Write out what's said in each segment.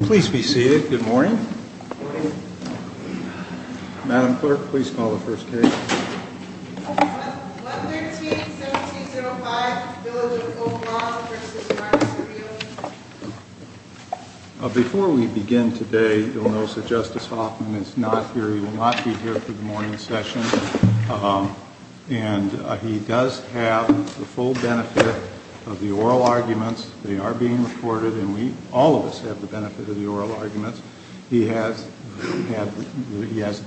Please be seated. Good morning. Madam Clerk, please call the first case. 113-1705, Village of Oak Lawn v. Marks and Fields. Before we begin today, you'll notice that Justice Hoffman is not here. He will not be here for the morning session. And he does have the full benefit of the oral arguments. They are being recorded and all of us have the benefit of the oral arguments. He has the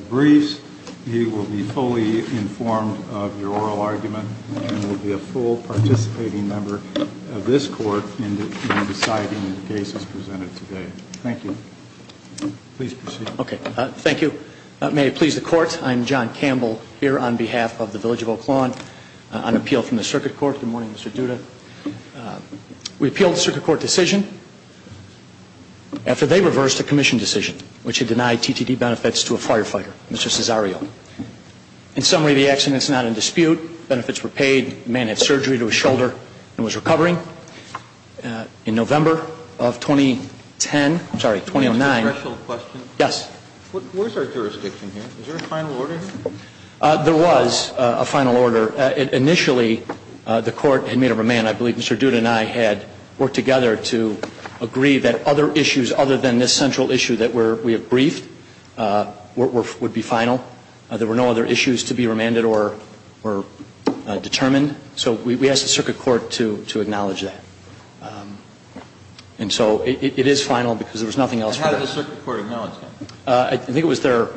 briefs. He will be fully informed of your oral argument and will be a full participating member of this Court in deciding the cases presented today. Thank you. Please proceed. Thank you. May it please the Court, I'm John Campbell here on behalf of the Village of Oak Lawn on appeal from the Circuit Court. Good morning, Mr. Duda. We appealed the Circuit Court decision after they reversed a Commission decision which had denied TTD benefits to a firefighter, Mr. Cesario. In summary, the accident is not in dispute. Benefits were paid. The man had surgery to his shoulder and was recovering. In November of 2010, I'm sorry, 2009. Mr. Duda, I have a question. Yes. Where is our jurisdiction here? Is there a final order? There was a final order. Initially, the Court had made a remand. I believe Mr. Duda and I had worked together to agree that other issues other than this central issue that we have briefed would be final. There were no other issues to be remanded or determined. So we asked the Circuit Court to acknowledge that. And so it is final because there was nothing else for that. How did the Circuit Court acknowledge that? I think it was their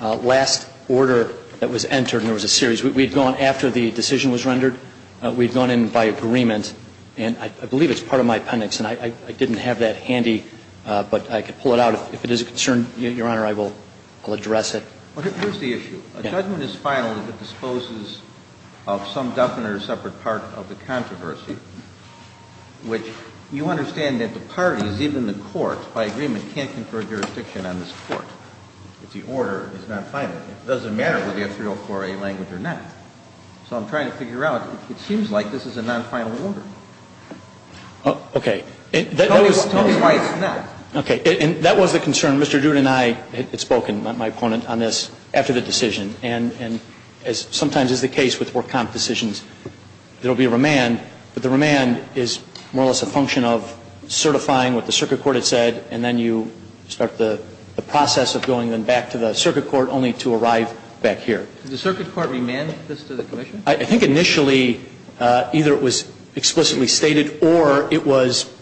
last order that was entered, and there was a series. We had gone after the decision was rendered. We had gone in by agreement, and I believe it's part of my appendix, and I didn't have that handy, but I could pull it out. If it is a concern, Your Honor, I will address it. But here's the issue. Yes. A judgment is final if it disposes of some definite or separate part of the controversy, which you understand that the parties, even the Court, by agreement, can't confer jurisdiction on this Court if the order is not final. It doesn't matter whether you have 304A language or not. So I'm trying to figure out, it seems like this is a non-final order. Okay. Tell me why it's not. Okay. And that was the concern. Mr. Duda and I had spoken, my opponent, on this after the decision. And as sometimes is the case with work comp decisions, there will be a remand, but the remand is more or less a function of certifying what the Circuit Court had said, and then you start the process of going then back to the Circuit Court, only to arrive back here. Did the Circuit Court remand this to the Commission? I think initially either it was explicitly stated or it was,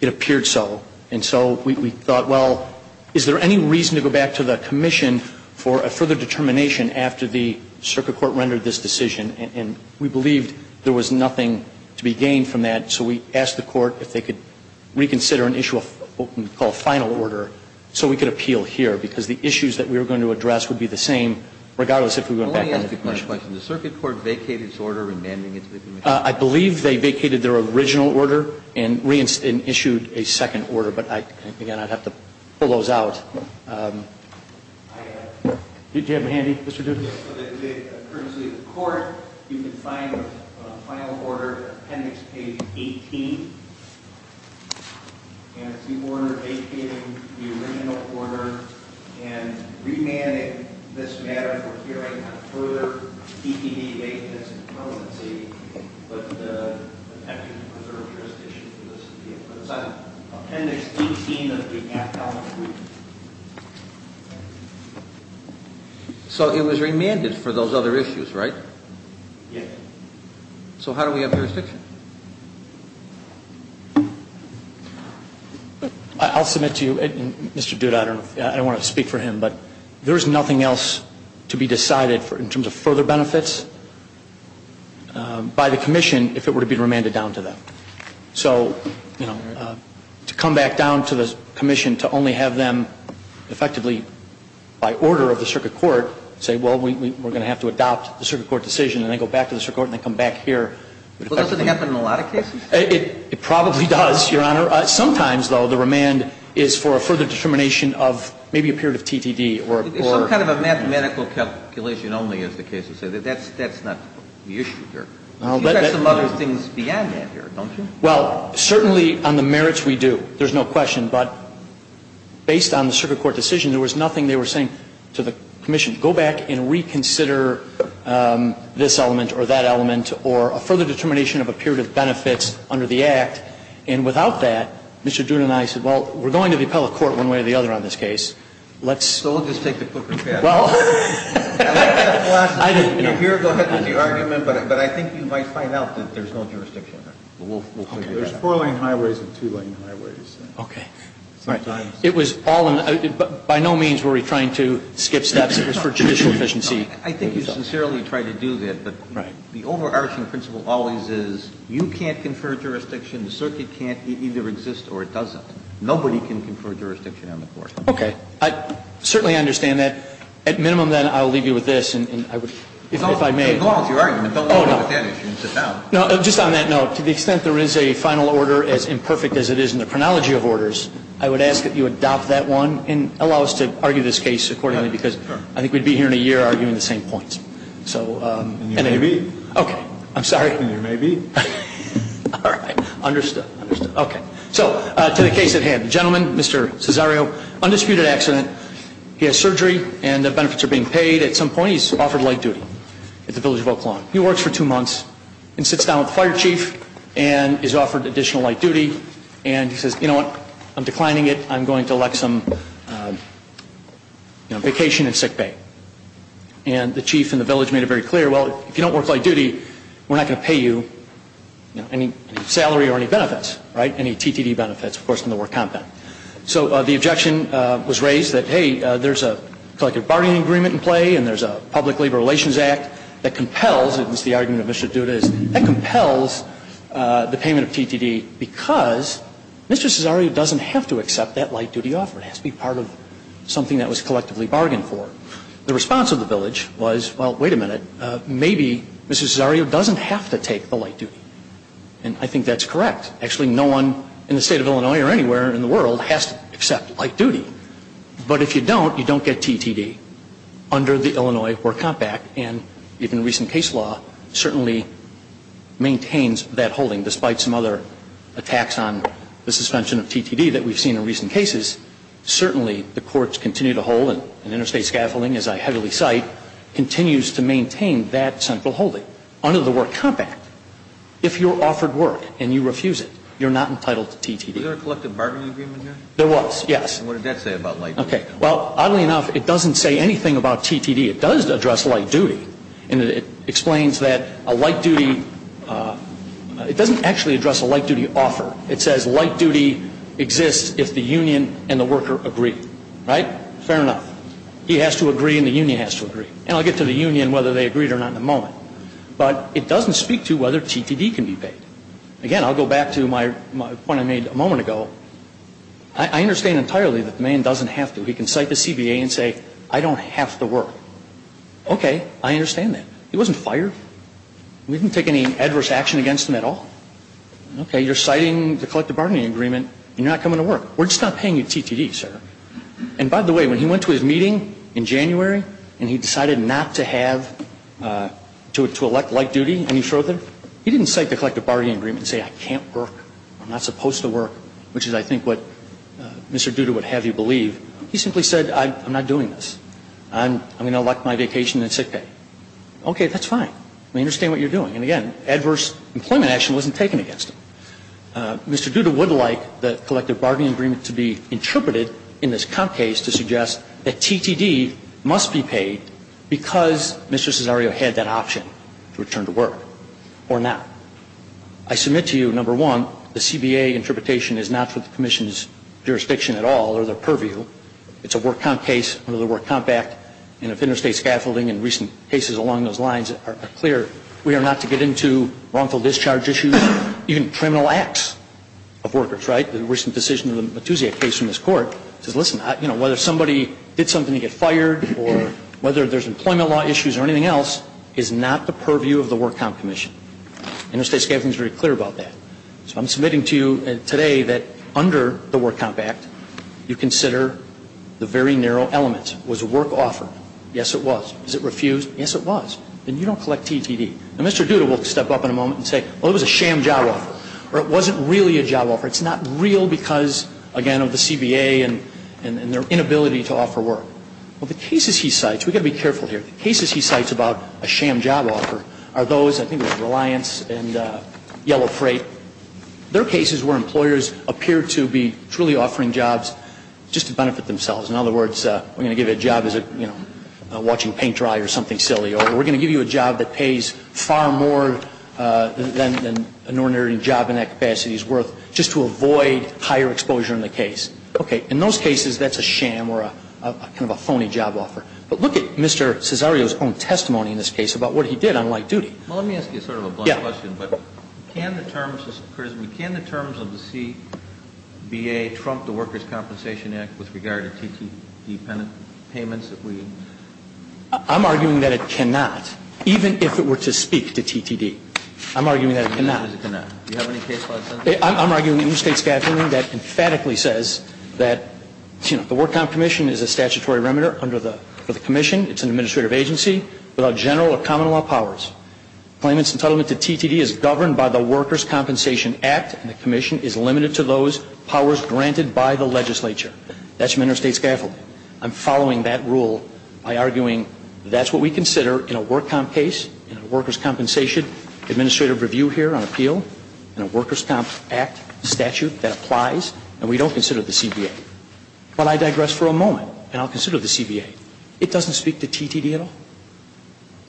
it appeared so. And so we thought, well, is there any reason to go back to the Commission for a further determination after the Circuit Court rendered this decision? And we believed there was nothing to be gained from that. So we asked the Court if they could reconsider an issue of what we call final order so we could appeal here, because the issues that we were going to address would be the same regardless if we went back to the Commission. The Circuit Court vacated its order remanding it to the Commission? I believe they vacated their original order and reissued a second order, but again, I'd have to pull those out. Do you have them handy, Mr. Duda? Yes, so that courtesy of the Court, you can find the final order, appendix page 18. And it's the order vacating the original order and remanding this matter for hearing on further DPD vacancy and permanency, but attempting to preserve jurisdiction for the Circuit Court. It's on appendix 18 of the Act, element 3. So it was remanded for those other issues, right? Yes. So how do we have jurisdiction? I'll submit to you, Mr. Duda, I don't want to speak for him, but there is nothing else to be decided in terms of further benefits by the Commission if it were to be remanded down to them. So, you know, to come back down to the Commission to only have them effectively, by order of the Circuit Court, say, well, we're going to have to adopt the Circuit Court decision, and then go back to the Circuit Court and then come back here. Well, does it happen in a lot of cases? It probably does, Your Honor. Sometimes, though, the remand is for a further determination of maybe a period of TTD or a court. It's some kind of a mathematical calculation only, as the cases say. That's not the issue here. You've got some other things beyond that here, don't you? Well, certainly on the merits we do. There's no question. But based on the Circuit Court decision, there was nothing they were saying to the Commission, go back and reconsider this element or that element or a further determination of a period of benefits under the Act. And without that, Mr. Duda and I said, well, we're going to the appellate court one way or the other on this case. Let's – So we'll just take the cooker and pass it. Well, I think you might find out that there's no jurisdiction there. There's four-lane highways and two-lane highways. Okay. It was all – by no means were we trying to skip steps. It was for judicial efficiency. I think you sincerely tried to do that. But the overarching principle always is you can't confer jurisdiction, the circuit can't, it either exists or it doesn't. Nobody can confer jurisdiction on the court. Okay. I certainly understand that. At minimum, then, I'll leave you with this. And I would – if I may. It's all in your argument. Don't argue with that issue. Sit down. No, just on that note, to the extent there is a final order as imperfect as it is in the chronology of orders, I would ask that you adopt that one and allow us to argue this case accordingly, because I think we'd be here in a year arguing the same points. So – And you may be. Okay. I'm sorry. And you may be. All right. Understood. Understood. Okay. So, to the case at hand. The gentleman, Mr. Cesario, undisputed accident. He has surgery and the benefits are being paid. At some point, he's offered light duty at the Village of Oak Lawn. He works for two months and sits down with the fire chief and is offered additional light duty. And he says, you know what? I'm declining it. I'm going to elect some vacation in sick bay. And the chief and the village made it very clear, well, if you don't work light duty, we're not going to pay you any salary or any benefits, right? Any TTD benefits, of course, from the work compound. So the objection was raised that, hey, there's a collective bargaining agreement in play and there's a public labor relations act that compels – and this is the argument of Mr. Duda – that compels the payment of TTD because Mr. Cesario doesn't have to accept that light duty offer. It has to be part of something that was collectively bargained for. The response of the village was, well, wait a minute. Maybe Mr. Cesario doesn't have to take the light duty. And I think that's correct. Actually, no one in the state of Illinois or anywhere in the world has to accept light duty. But if you don't, you don't get TTD under the Illinois work compact. And even recent case law certainly maintains that holding, despite some other attacks on the suspension of TTD that we've seen in recent cases. Certainly the courts continue to hold, and interstate scaffolding, as I heavily cite, continues to maintain that central holding under the work compact. If you're offered work and you refuse it, you're not entitled to TTD. Was there a collective bargaining agreement here? There was, yes. And what did that say about light duty? Okay. Well, oddly enough, it doesn't say anything about TTD. It does address light duty. And it explains that a light duty – it doesn't actually address a light duty offer. It says light duty exists if the union and the worker agree. Right? Fair enough. He has to agree and the union has to agree. And I'll get to the union, whether they agreed or not, in a moment. But it doesn't speak to whether TTD can be paid. Again, I'll go back to my point I made a moment ago. I understand entirely that the man doesn't have to. He can cite the CBA and say, I don't have to work. Okay. I understand that. He wasn't fired. We didn't take any adverse action against him at all. Okay. You're citing the collective bargaining agreement and you're not coming to work. We're just not paying you TTD, sir. And by the way, when he went to his meeting in January and he decided not to have – to elect light duty any further, he didn't cite the collective bargaining agreement and say, I can't work. I'm not supposed to work, which is, I think, what Mr. Duda would have you believe. He simply said, I'm not doing this. I'm going to elect my vacation and sick pay. Okay. That's fine. We understand what you're doing. And again, adverse employment action wasn't taken against him. Mr. Duda would like the collective bargaining agreement to be interpreted in this comp case to suggest that TTD must be paid because Mr. Cesario had that option to return to work or not. I submit to you, number one, the CBA interpretation is not for the commission's jurisdiction at all or their purview. It's a work comp case under the Work Comp Act, and if interstate scaffolding and recent cases along those lines are clear, we are not to get into wrongful discharge issues, even criminal acts of workers, right? The recent decision of the Matusia case in this court says, listen, whether somebody did something to get fired or whether there's employment law issues or anything else is not the purview of the Work Comp Commission. Interstate scaffolding is very clear about that. So I'm submitting to you today that under the Work Comp Act, you consider the very narrow elements. Was work offered? Yes, it was. Is it refused? Yes, it was. Then you don't collect TTD. Now, Mr. Duda will step up in a moment and say, well, it was a sham job offer, or it wasn't really a job offer. It's not real because, again, of the CBA and their inability to offer work. Well, the cases he cites, we've got to be careful here, the cases he cites about a sham job offer are those, I think it was Reliance and Yellow Freight. They're cases where employers appear to be truly offering jobs just to benefit themselves. In other words, we're going to give you a job as a, you know, watching paint dry or something silly, or we're going to give you a job that pays far more than an ordinary job in that capacity is worth just to avoid higher exposure in the case. Okay. In those cases, that's a sham or a kind of a phony job offer. But look at Mr. Cesario's own testimony in this case about what he did on light duty. Well, let me ask you sort of a blunt question. Yeah. But can the terms of the CBA trump the Workers' Compensation Act with regard to TTD payments that we? I'm arguing that it cannot, even if it were to speak to TTD. I'm arguing that it cannot. You have any case files? I'm arguing the interstate scaffolding that emphatically says that, you know, the work comp commission is a statutory remitter under the commission. It's an administrative agency without general or common law powers. Claimants entitlement to TTD is governed by the Workers' Compensation Act, and the commission is limited to those powers granted by the legislature. That's from interstate scaffolding. I'm following that rule by arguing that's what we consider in a work comp case, in a workers' compensation administrative review here on appeal, in a workers' comp act statute that applies, and we don't consider the CBA. But I digress for a moment, and I'll consider the CBA. It doesn't speak to TTD at all.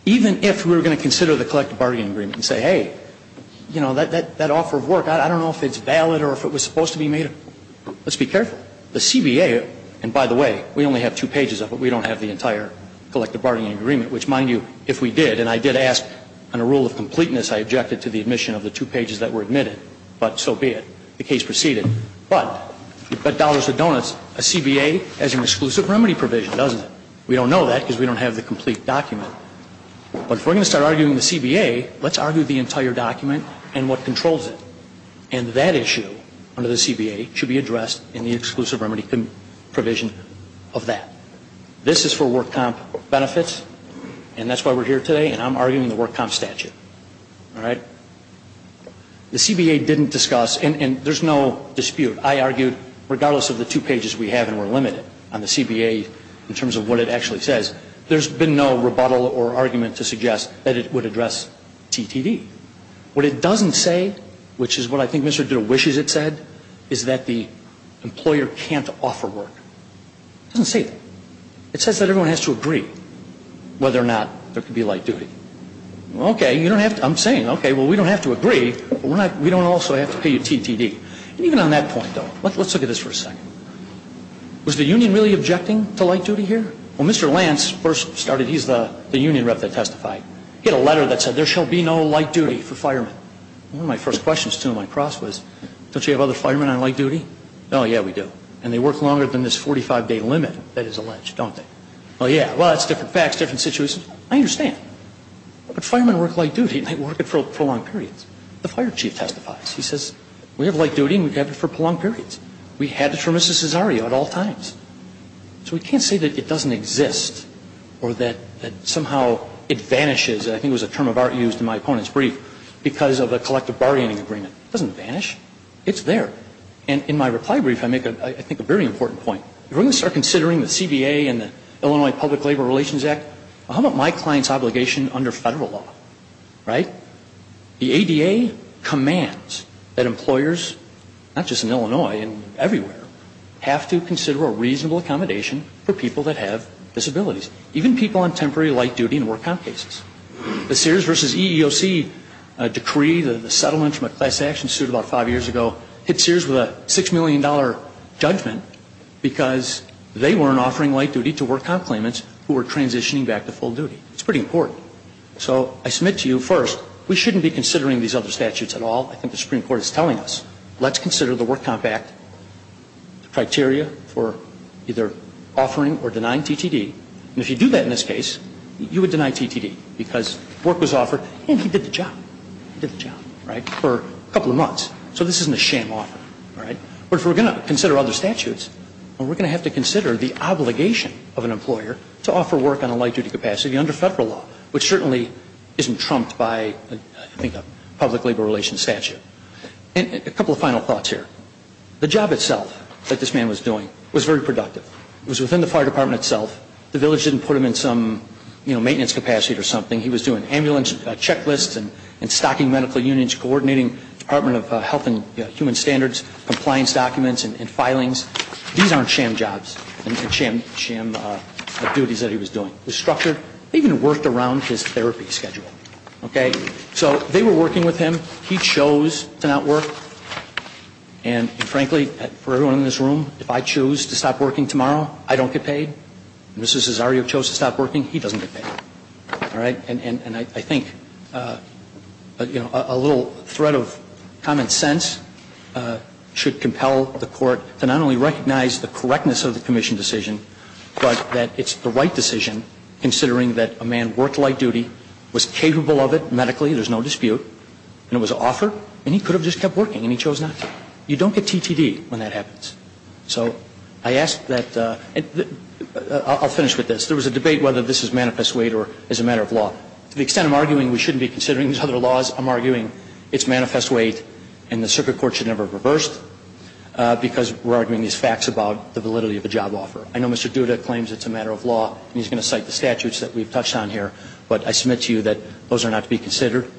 Even if we were going to consider the collective bargaining agreement and say, hey, you know, that offer of work, I don't know if it's valid or if it was supposed to be made. Let's be careful. The CBA, and by the way, we only have two pages of it. We don't have the entire collective bargaining agreement, which, mind you, if we did and I did ask on a rule of completeness, I objected to the admission of the two pages that were admitted, but so be it. The case proceeded. But you bet dollars with donuts, a CBA has an exclusive remedy provision, doesn't it? We don't know that because we don't have the complete document. But if we're going to start arguing the CBA, let's argue the entire document and what controls it. And that issue under the CBA should be addressed in the exclusive remedy provision of that. This is for work comp benefits, and that's why we're here today, and I'm arguing the work comp statute. All right? The CBA didn't discuss, and there's no dispute. I argued, regardless of the two pages we have and we're limited on the CBA in terms of what it actually says, there's been no rebuttal or argument to suggest that it would address TTD. What it doesn't say, which is what I think Mr. Duda wishes it said, is that the employer can't offer work. It doesn't say that. It says that everyone has to agree whether or not there could be light duty. Okay. I'm saying, okay, well, we don't have to agree, but we don't also have to pay you TTD. And even on that point, though, let's look at this for a second. Was the union really objecting to light duty here? Well, Mr. Lance first started, he's the union rep that testified. He had a letter that said, there shall be no light duty for firemen. One of my first questions to him on cross was, don't you have other firemen on light duty? Oh, yeah, we do. And they work longer than this 45-day limit that is alleged, don't they? Oh, yeah. Well, that's different facts, different situations. I understand. But firemen work light duty and they work it for prolonged periods. The fire chief testifies. He says, we have light duty and we have it for prolonged periods. We had it for Mrs. Cesario at all times. So we can't say that it doesn't exist or that somehow it vanishes. I think it was a term of art used in my opponent's brief because of a collective bargaining agreement. It doesn't vanish. It's there. And in my reply brief, I make, I think, a very important point. If we're going to start considering the CBA and the Illinois Public Labor Relations Act, how about my client's obligation under Federal law, right? The ADA commands that employers, not just in Illinois and everywhere, have to consider a reasonable accommodation for people that have disabilities, even people on temporary light duty and work comp cases. The Sears v. EEOC decree, the settlement from a class action suit about five years ago, hit Sears with a $6 million judgment because they weren't offering light duty to work comp claimants who were transitioning back to full duty. It's pretty important. So I submit to you, first, we shouldn't be considering these other statutes at all. I think the Supreme Court is telling us. Let's consider the Work Comp Act criteria for either offering or denying TTD. And if you do that in this case, you would deny TTD because work was offered and he did the job. He did the job, right, for a couple of months. So this isn't a sham offer, right? But if we're going to consider other statutes, we're going to have to consider the obligation of an employer to offer work on a light duty capacity under Federal law, which certainly isn't trumped by, I think, a public labor relations statute. And a couple of final thoughts here. The job itself that this man was doing was very productive. It was within the fire department itself. The village didn't put him in some, you know, maintenance capacity or something. He was doing ambulance checklists and stocking medical unions, coordinating Department of Health and Human Standards compliance documents and filings. These aren't sham jobs and sham duties that he was doing. It was structured. They even worked around his therapy schedule, okay? So they were working with him. He chose to not work. And, frankly, for everyone in this room, if I choose to stop working tomorrow, I don't get paid. If Mr. Cesario chose to stop working, he doesn't get paid. All right? And I think, you know, a little thread of common sense should compel the Court to not only recognize the correctness of the commission decision, but that it's the right decision, considering that a man worked light duty, was capable of it medically, there's no dispute, and it was an offer, and he could have just kept working and he chose not to. You don't get TTD when that happens. So I ask that the – I'll finish with this. There was a debate whether this is manifest weight or is a matter of law. To the extent I'm arguing we shouldn't be considering these other laws, I'm arguing it's manifest weight and the circuit court should never have reversed because we're arguing these facts about the validity of a job offer. I know Mr. Duda claims it's a matter of law and he's going to cite the statutes that we've touched on here, but I submit to you that those are not to be considered.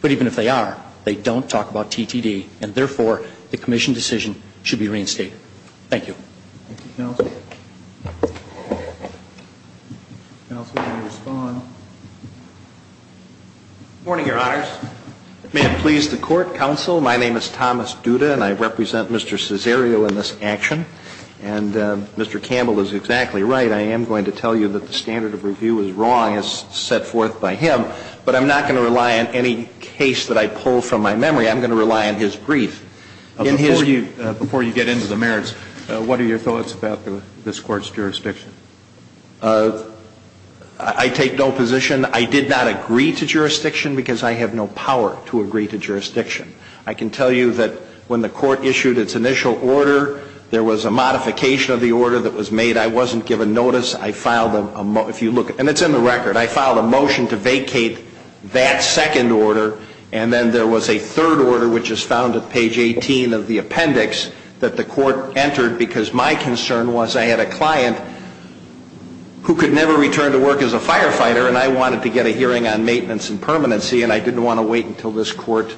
But even if they are, they don't talk about TTD and, therefore, the commission decision should be reinstated. Thank you. Thank you, counsel. Counsel, can you respond? Good morning, Your Honors. May it please the Court, Counsel, my name is Thomas Duda and I represent Mr. Cesario in this action. And Mr. Campbell is exactly right. I am going to tell you that the standard of review is wrong as set forth by him, but I'm not going to rely on any case that I pull from my memory. I'm going to rely on his brief. Before you get into the merits, what are your thoughts about this Court's jurisdiction? I take no position. I did not agree to jurisdiction because I have no power to agree to jurisdiction. I can tell you that when the Court issued its initial order, there was a modification of the order that was made. I wasn't given notice. I filed a motion. And it's in the record. I filed a motion to vacate that second order, and then there was a third order, which is found at page 18 of the appendix, that the Court entered because my concern was I had a client who could never return to work as a firefighter, and I wanted to get a hearing on maintenance and permanency, and I didn't want to wait until this Court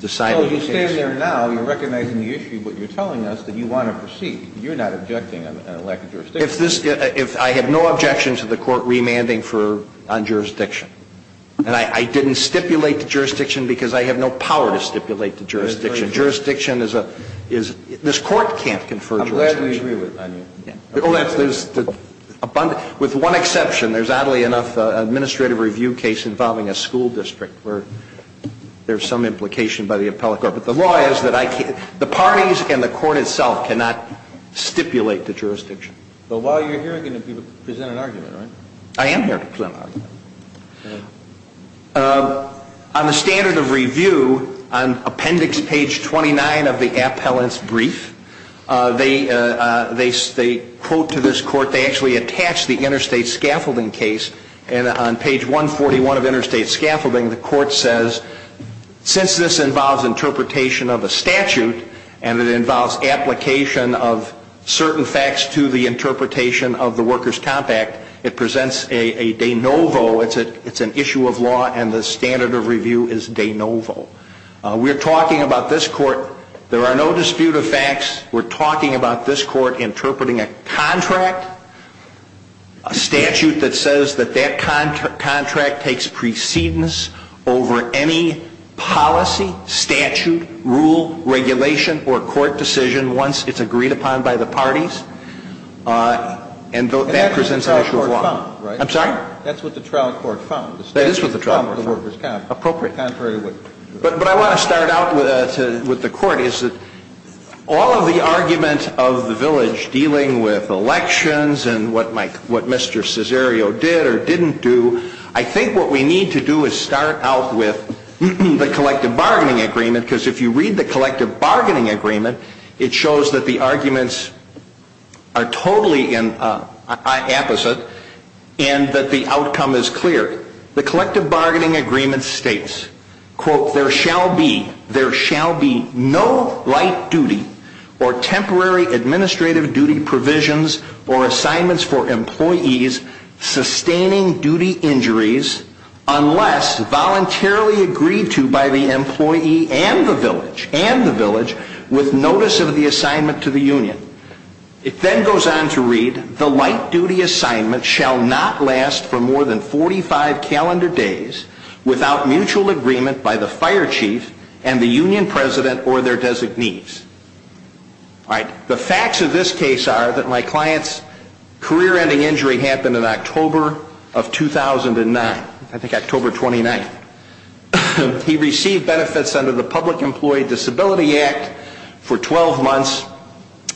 decided the case. Well, you stand there now. You're recognizing the issue. But you're telling us that you want to proceed. You're not objecting on a lack of jurisdiction. I have no objection to the Court remanding on jurisdiction. And I didn't stipulate the jurisdiction because I have no power to stipulate the jurisdiction. Jurisdiction is a – this Court can't confer jurisdiction. I'm glad we agree on that. With one exception, there's oddly enough an administrative review case involving a school district where there's some implication by the appellate court. But the law is that I can't – the parties and the Court itself cannot stipulate the jurisdiction. But while you're here, you're going to present an argument, right? I am here to present an argument. On the standard of review, on appendix page 29 of the appellant's brief, they quote to this Court, they actually attach the interstate scaffolding case, and on page 141 of interstate scaffolding, the Court says, since this involves interpretation of a statute and it involves application of certain facts to the interpretation of the Workers' Compact, it presents a de novo. It's an issue of law and the standard of review is de novo. We're talking about this Court. There are no dispute of facts. We're talking about this Court interpreting a contract, a statute that says that that contract takes precedence over any policy, statute, rule, regulation, or court decision once it's agreed upon by the parties. And that presents an issue of law. I'm sorry? That's what the trial court found. That is what the trial court found. Appropriate. But I want to start out with the Court. All of the argument of the village dealing with elections and what Mr. Cesario did or didn't do, I think what we need to do is start out with the collective bargaining agreement because if you read the collective bargaining agreement, it shows that the arguments are totally opposite and that the outcome is clear. The collective bargaining agreement states, quote, there shall be no light duty or temporary administrative duty provisions or assignments for employees sustaining duty injuries unless voluntarily agreed to by the employee and the village with notice of the assignment to the union. It then goes on to read, the light duty assignment shall not last for more than 45 calendar days without mutual agreement by the fire chief and the union president or their designees. All right. The facts of this case are that my client's career-ending injury happened in October of 2009. I think October 29th. He received benefits under the Public Employee Disability Act for 12 months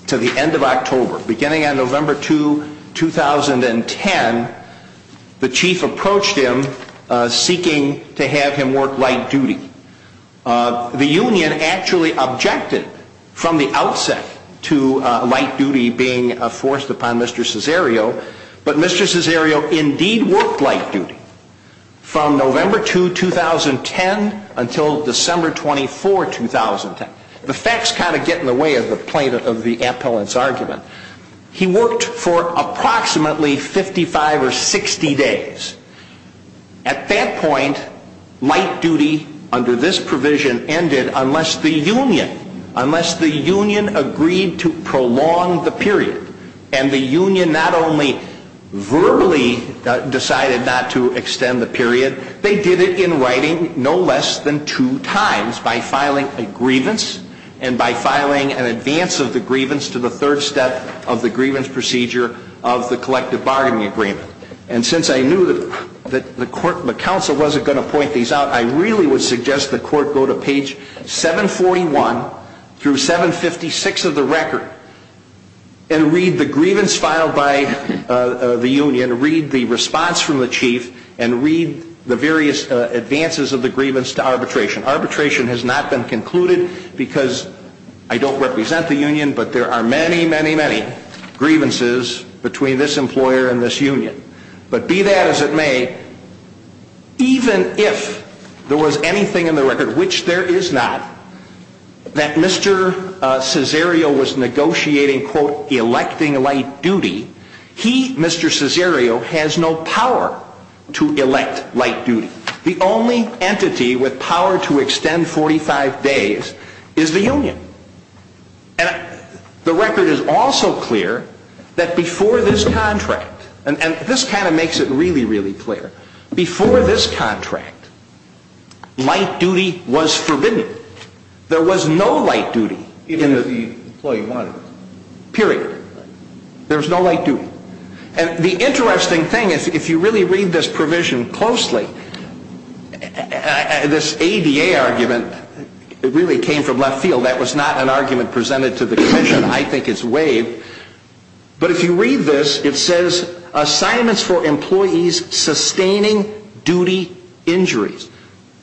to the end of October. Beginning on November 2, 2010, the chief approached him seeking to have him work light duty. The union actually objected from the outset to light duty being forced upon Mr. Cesario, but Mr. Cesario indeed worked light duty from November 2, 2010 until December 24, 2010. The facts kind of get in the way of the plaintiff of the appellant's argument. He worked for approximately 55 or 60 days. At that point, light duty under this provision ended unless the union, unless the union agreed to prolong the period and the union not only verbally decided not to extend the period, they did it in writing no less than two times by filing a grievance and by filing an advance of the grievance to the third step of the grievance procedure of the collective bargaining agreement. And since I knew that the counsel wasn't going to point these out, I really would suggest the court go to page 741 through 756 of the record and read the grievance filed by the union, read the response from the chief, and read the various advances of the grievance to arbitration. Arbitration has not been concluded because I don't represent the union, but there are many, many, many grievances between this employer and this union. But be that as it may, even if there was anything in the record, which there is not, that Mr. Cesario was negotiating, quote, electing light duty, he, Mr. Cesario, has no power to elect light duty. The only entity with power to extend 45 days is the union. And the record is also clear that before this contract, and this kind of makes it really, really clear, before this contract, light duty was forbidden. There was no light duty. Even if the employee wanted it. Period. There was no light duty. And the interesting thing is if you really read this provision closely, this ADA argument, it really came from left field. That was not an argument presented to the commission. I think it's waived. But if you read this, it says assignments for employees sustaining duty injuries.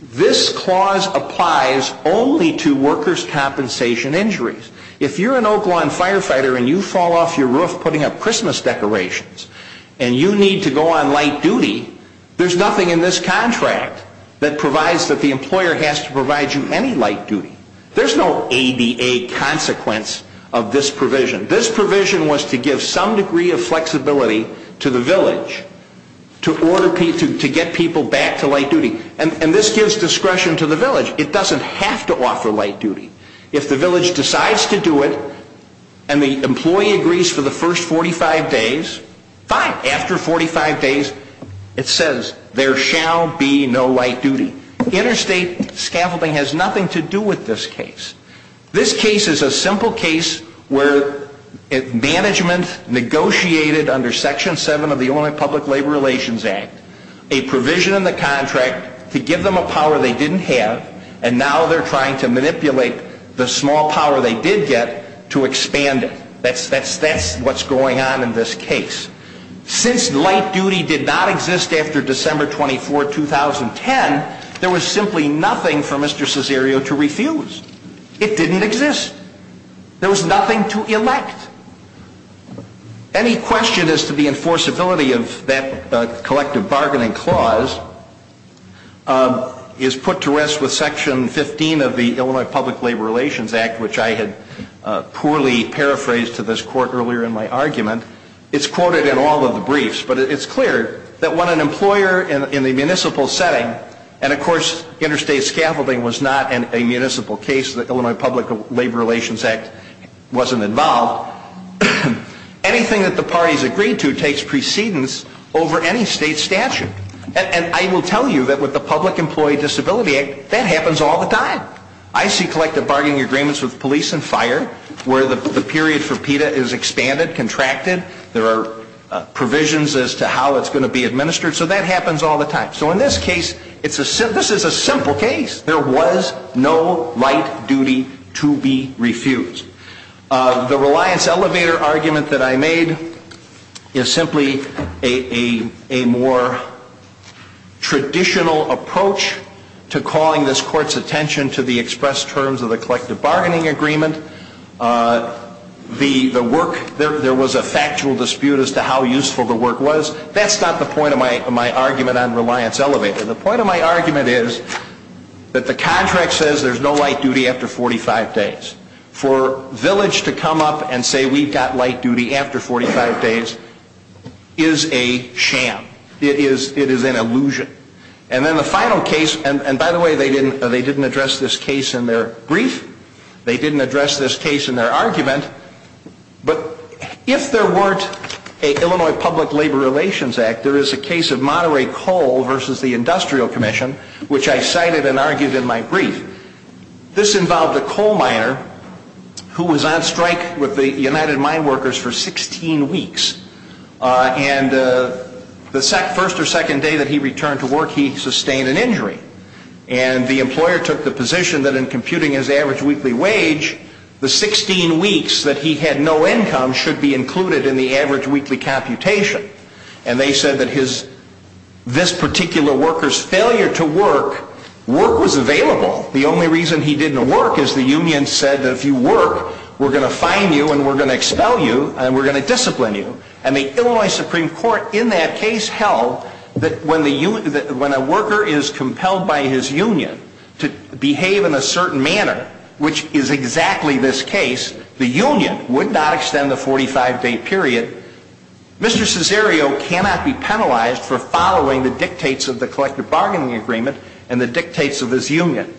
This clause applies only to workers' compensation injuries. If you're an Oak Lawn firefighter and you fall off your roof putting up Christmas decorations and you need to go on light duty, there's nothing in this contract that provides that the employer has to provide you any light duty. There's no ADA consequence of this provision. This provision was to give some degree of flexibility to the village to get people back to light duty. And this gives discretion to the village. It doesn't have to offer light duty. If the village decides to do it and the employee agrees for the first 45 days, fine. After 45 days, it says there shall be no light duty. Interstate scaffolding has nothing to do with this case. This case is a simple case where management negotiated under Section 7 of the Illinois Public Labor Relations Act a provision in the contract to give them a power they didn't have and now they're trying to manipulate the small power they did get to expand it. That's what's going on in this case. Since light duty did not exist after December 24, 2010, there was simply nothing for Mr. Cesario to refuse. It didn't exist. There was nothing to elect. Any question as to the enforceability of that collective bargaining clause is put to rest with Section 15 of the Illinois Public Labor Relations Act, which I had poorly paraphrased to this court earlier in my argument. It's quoted in all of the briefs, but it's clear that when an employer in a municipal setting, and of course interstate scaffolding was not a municipal case, the Illinois Public Labor Relations Act wasn't involved, anything that the parties agreed to takes precedence over any state statute. And I will tell you that with the Public Employee Disability Act, that happens all the time. I see collective bargaining agreements with police and fire where the period for PETA is expanded, contracted. There are provisions as to how it's going to be administered, so that happens all the time. So in this case, this is a simple case. There was no right duty to be refused. The Reliance Elevator argument that I made is simply a more traditional approach to calling this court's attention to the express terms of the collective bargaining agreement. The work, there was a factual dispute as to how useful the work was. That's not the point of my argument on Reliance Elevator. The point of my argument is that the contract says there's no right duty after 45 days. For Village to come up and say we've got right duty after 45 days is a sham. It is an illusion. And then the final case, and by the way, they didn't address this case in their brief. They didn't address this case in their argument. But if there weren't an Illinois Public Labor Relations Act, there is a case of Monterey Coal versus the Industrial Commission, which I cited and argued in my brief. This involved a coal miner who was on strike with the United Mine Workers for 16 weeks. And the first or second day that he returned to work, he sustained an injury. And the employer took the position that in computing his average weekly wage, the 16 weeks that he had no income should be included in the average weekly computation. And they said that this particular worker's failure to work, work was available. The only reason he didn't work is the union said that if you work, we're going to fine you and we're going to expel you and we're going to discipline you. And the Illinois Supreme Court in that case held that when a worker is compelled by his union to behave in a certain manner, which is exactly this case, the union would not extend the 45-day period. Mr. Cesario cannot be penalized for following the dictates of the collective bargaining agreement and the dictates of his union.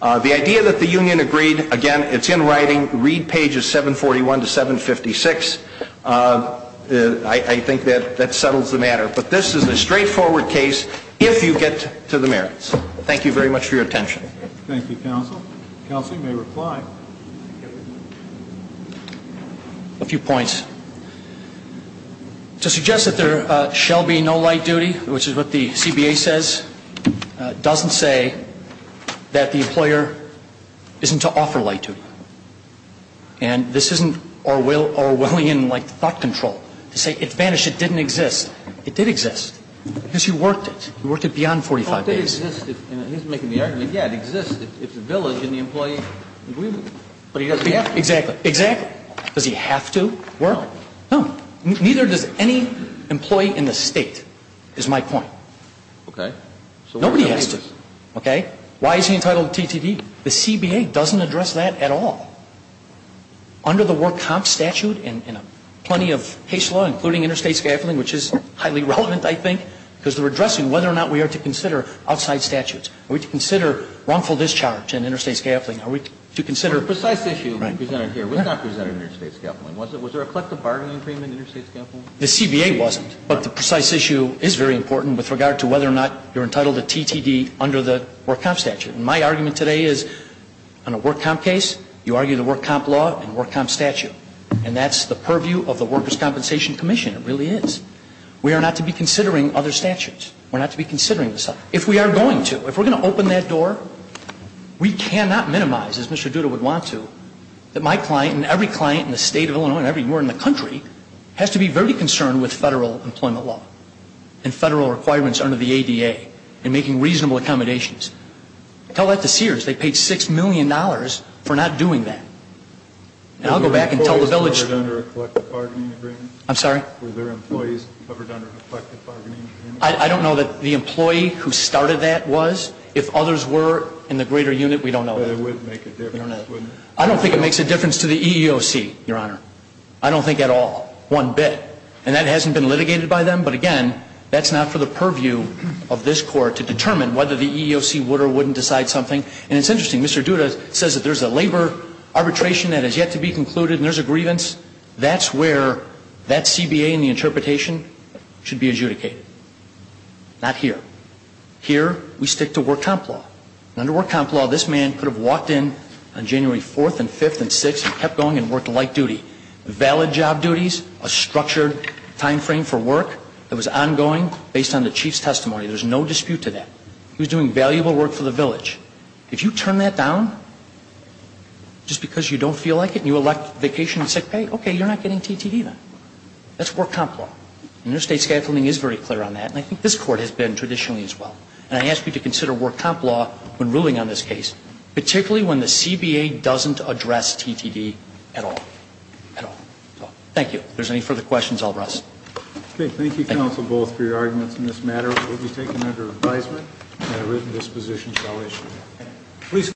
The idea that the union agreed, again, it's in writing. Read pages 741 to 756. I think that that settles the matter. But this is a straightforward case if you get to the merits. Thank you very much for your attention. Thank you, counsel. Counsel, you may reply. A few points. To suggest that there shall be no light duty, which is what the CBA says, doesn't say that the employer isn't to offer light duty. And this isn't Orwellian like thought control. To say it vanished, it didn't exist. It did exist. Because he worked it. He worked it beyond 45 days. Well, it did exist. He's making the argument, yeah, it exists. It's a village in the employee agreement. But he doesn't have to. Exactly. Exactly. Does he have to work? No. No. Neither does any employee in the State, is my point. Okay. Nobody has to. Okay. Why is he entitled to TTD? The CBA doesn't address that at all. Under the Work Comp Statute and plenty of case law, including interstate scaffolding, which is highly relevant, I think, because they're addressing whether or not we are to consider outside statutes. Are we to consider wrongful discharge and interstate scaffolding? Are we to consider the precise issue presented here? It was not presented in interstate scaffolding, was it? Was there a collective bargaining agreement in interstate scaffolding? The CBA wasn't. But the precise issue is very important with regard to whether or not you're entitled to TTD under the Work Comp Statute. And my argument today is on a Work Comp case, you argue the Work Comp law and Work Comp statute. And that's the purview of the Workers' Compensation Commission. It really is. We are not to be considering other statutes. We're not to be considering this. If we are going to, if we're going to open that door, we cannot minimize, as Mr. Duda would want to, that my client and every client in the State of Illinois and everywhere in the country has to be very concerned with Federal employment law and Federal requirements under the ADA and making reasonable accommodations. Tell that to Sears. They paid $6 million for not doing that. And I'll go back and tell the village. Were their employees covered under a collective bargaining agreement? I'm sorry? Were their employees covered under a collective bargaining agreement? I don't know that the employee who started that was. If others were in the greater unit, we don't know that. I don't think it makes a difference to the EEOC, Your Honor. I don't think at all. One bit. And that hasn't been litigated by them. But again, that's not for the purview of this Court to determine whether the EEOC would or wouldn't decide something. And it's interesting, Mr. Duda says that there's a labor arbitration that has yet to be concluded and there's a grievance. That's where that CBA and the interpretation should be adjudicated. Not here. Here, we stick to Work Comp law. Under Work Comp law, this man could have walked in on January 4th and 5th and 6th and kept going and worked light duty. Valid job duties, a structured time frame for work that was ongoing based on the chief's testimony. There's no dispute to that. He was doing valuable work for the village. If you turn that down just because you don't feel like it and you elect vacation and sick pay, okay, you're not getting TTE then. That's Work Comp law. And interstate scaffolding is very clear on that. And I think this Court has been traditionally as well. And I ask you to consider Work Comp law when ruling on this case, particularly when the CBA doesn't address TTE at all. At all. Thank you. If there's any further questions, I'll rest. Okay. Thank you, counsel, both, for your arguments in this matter. It will be taken under advisement and a written disposition shall issue.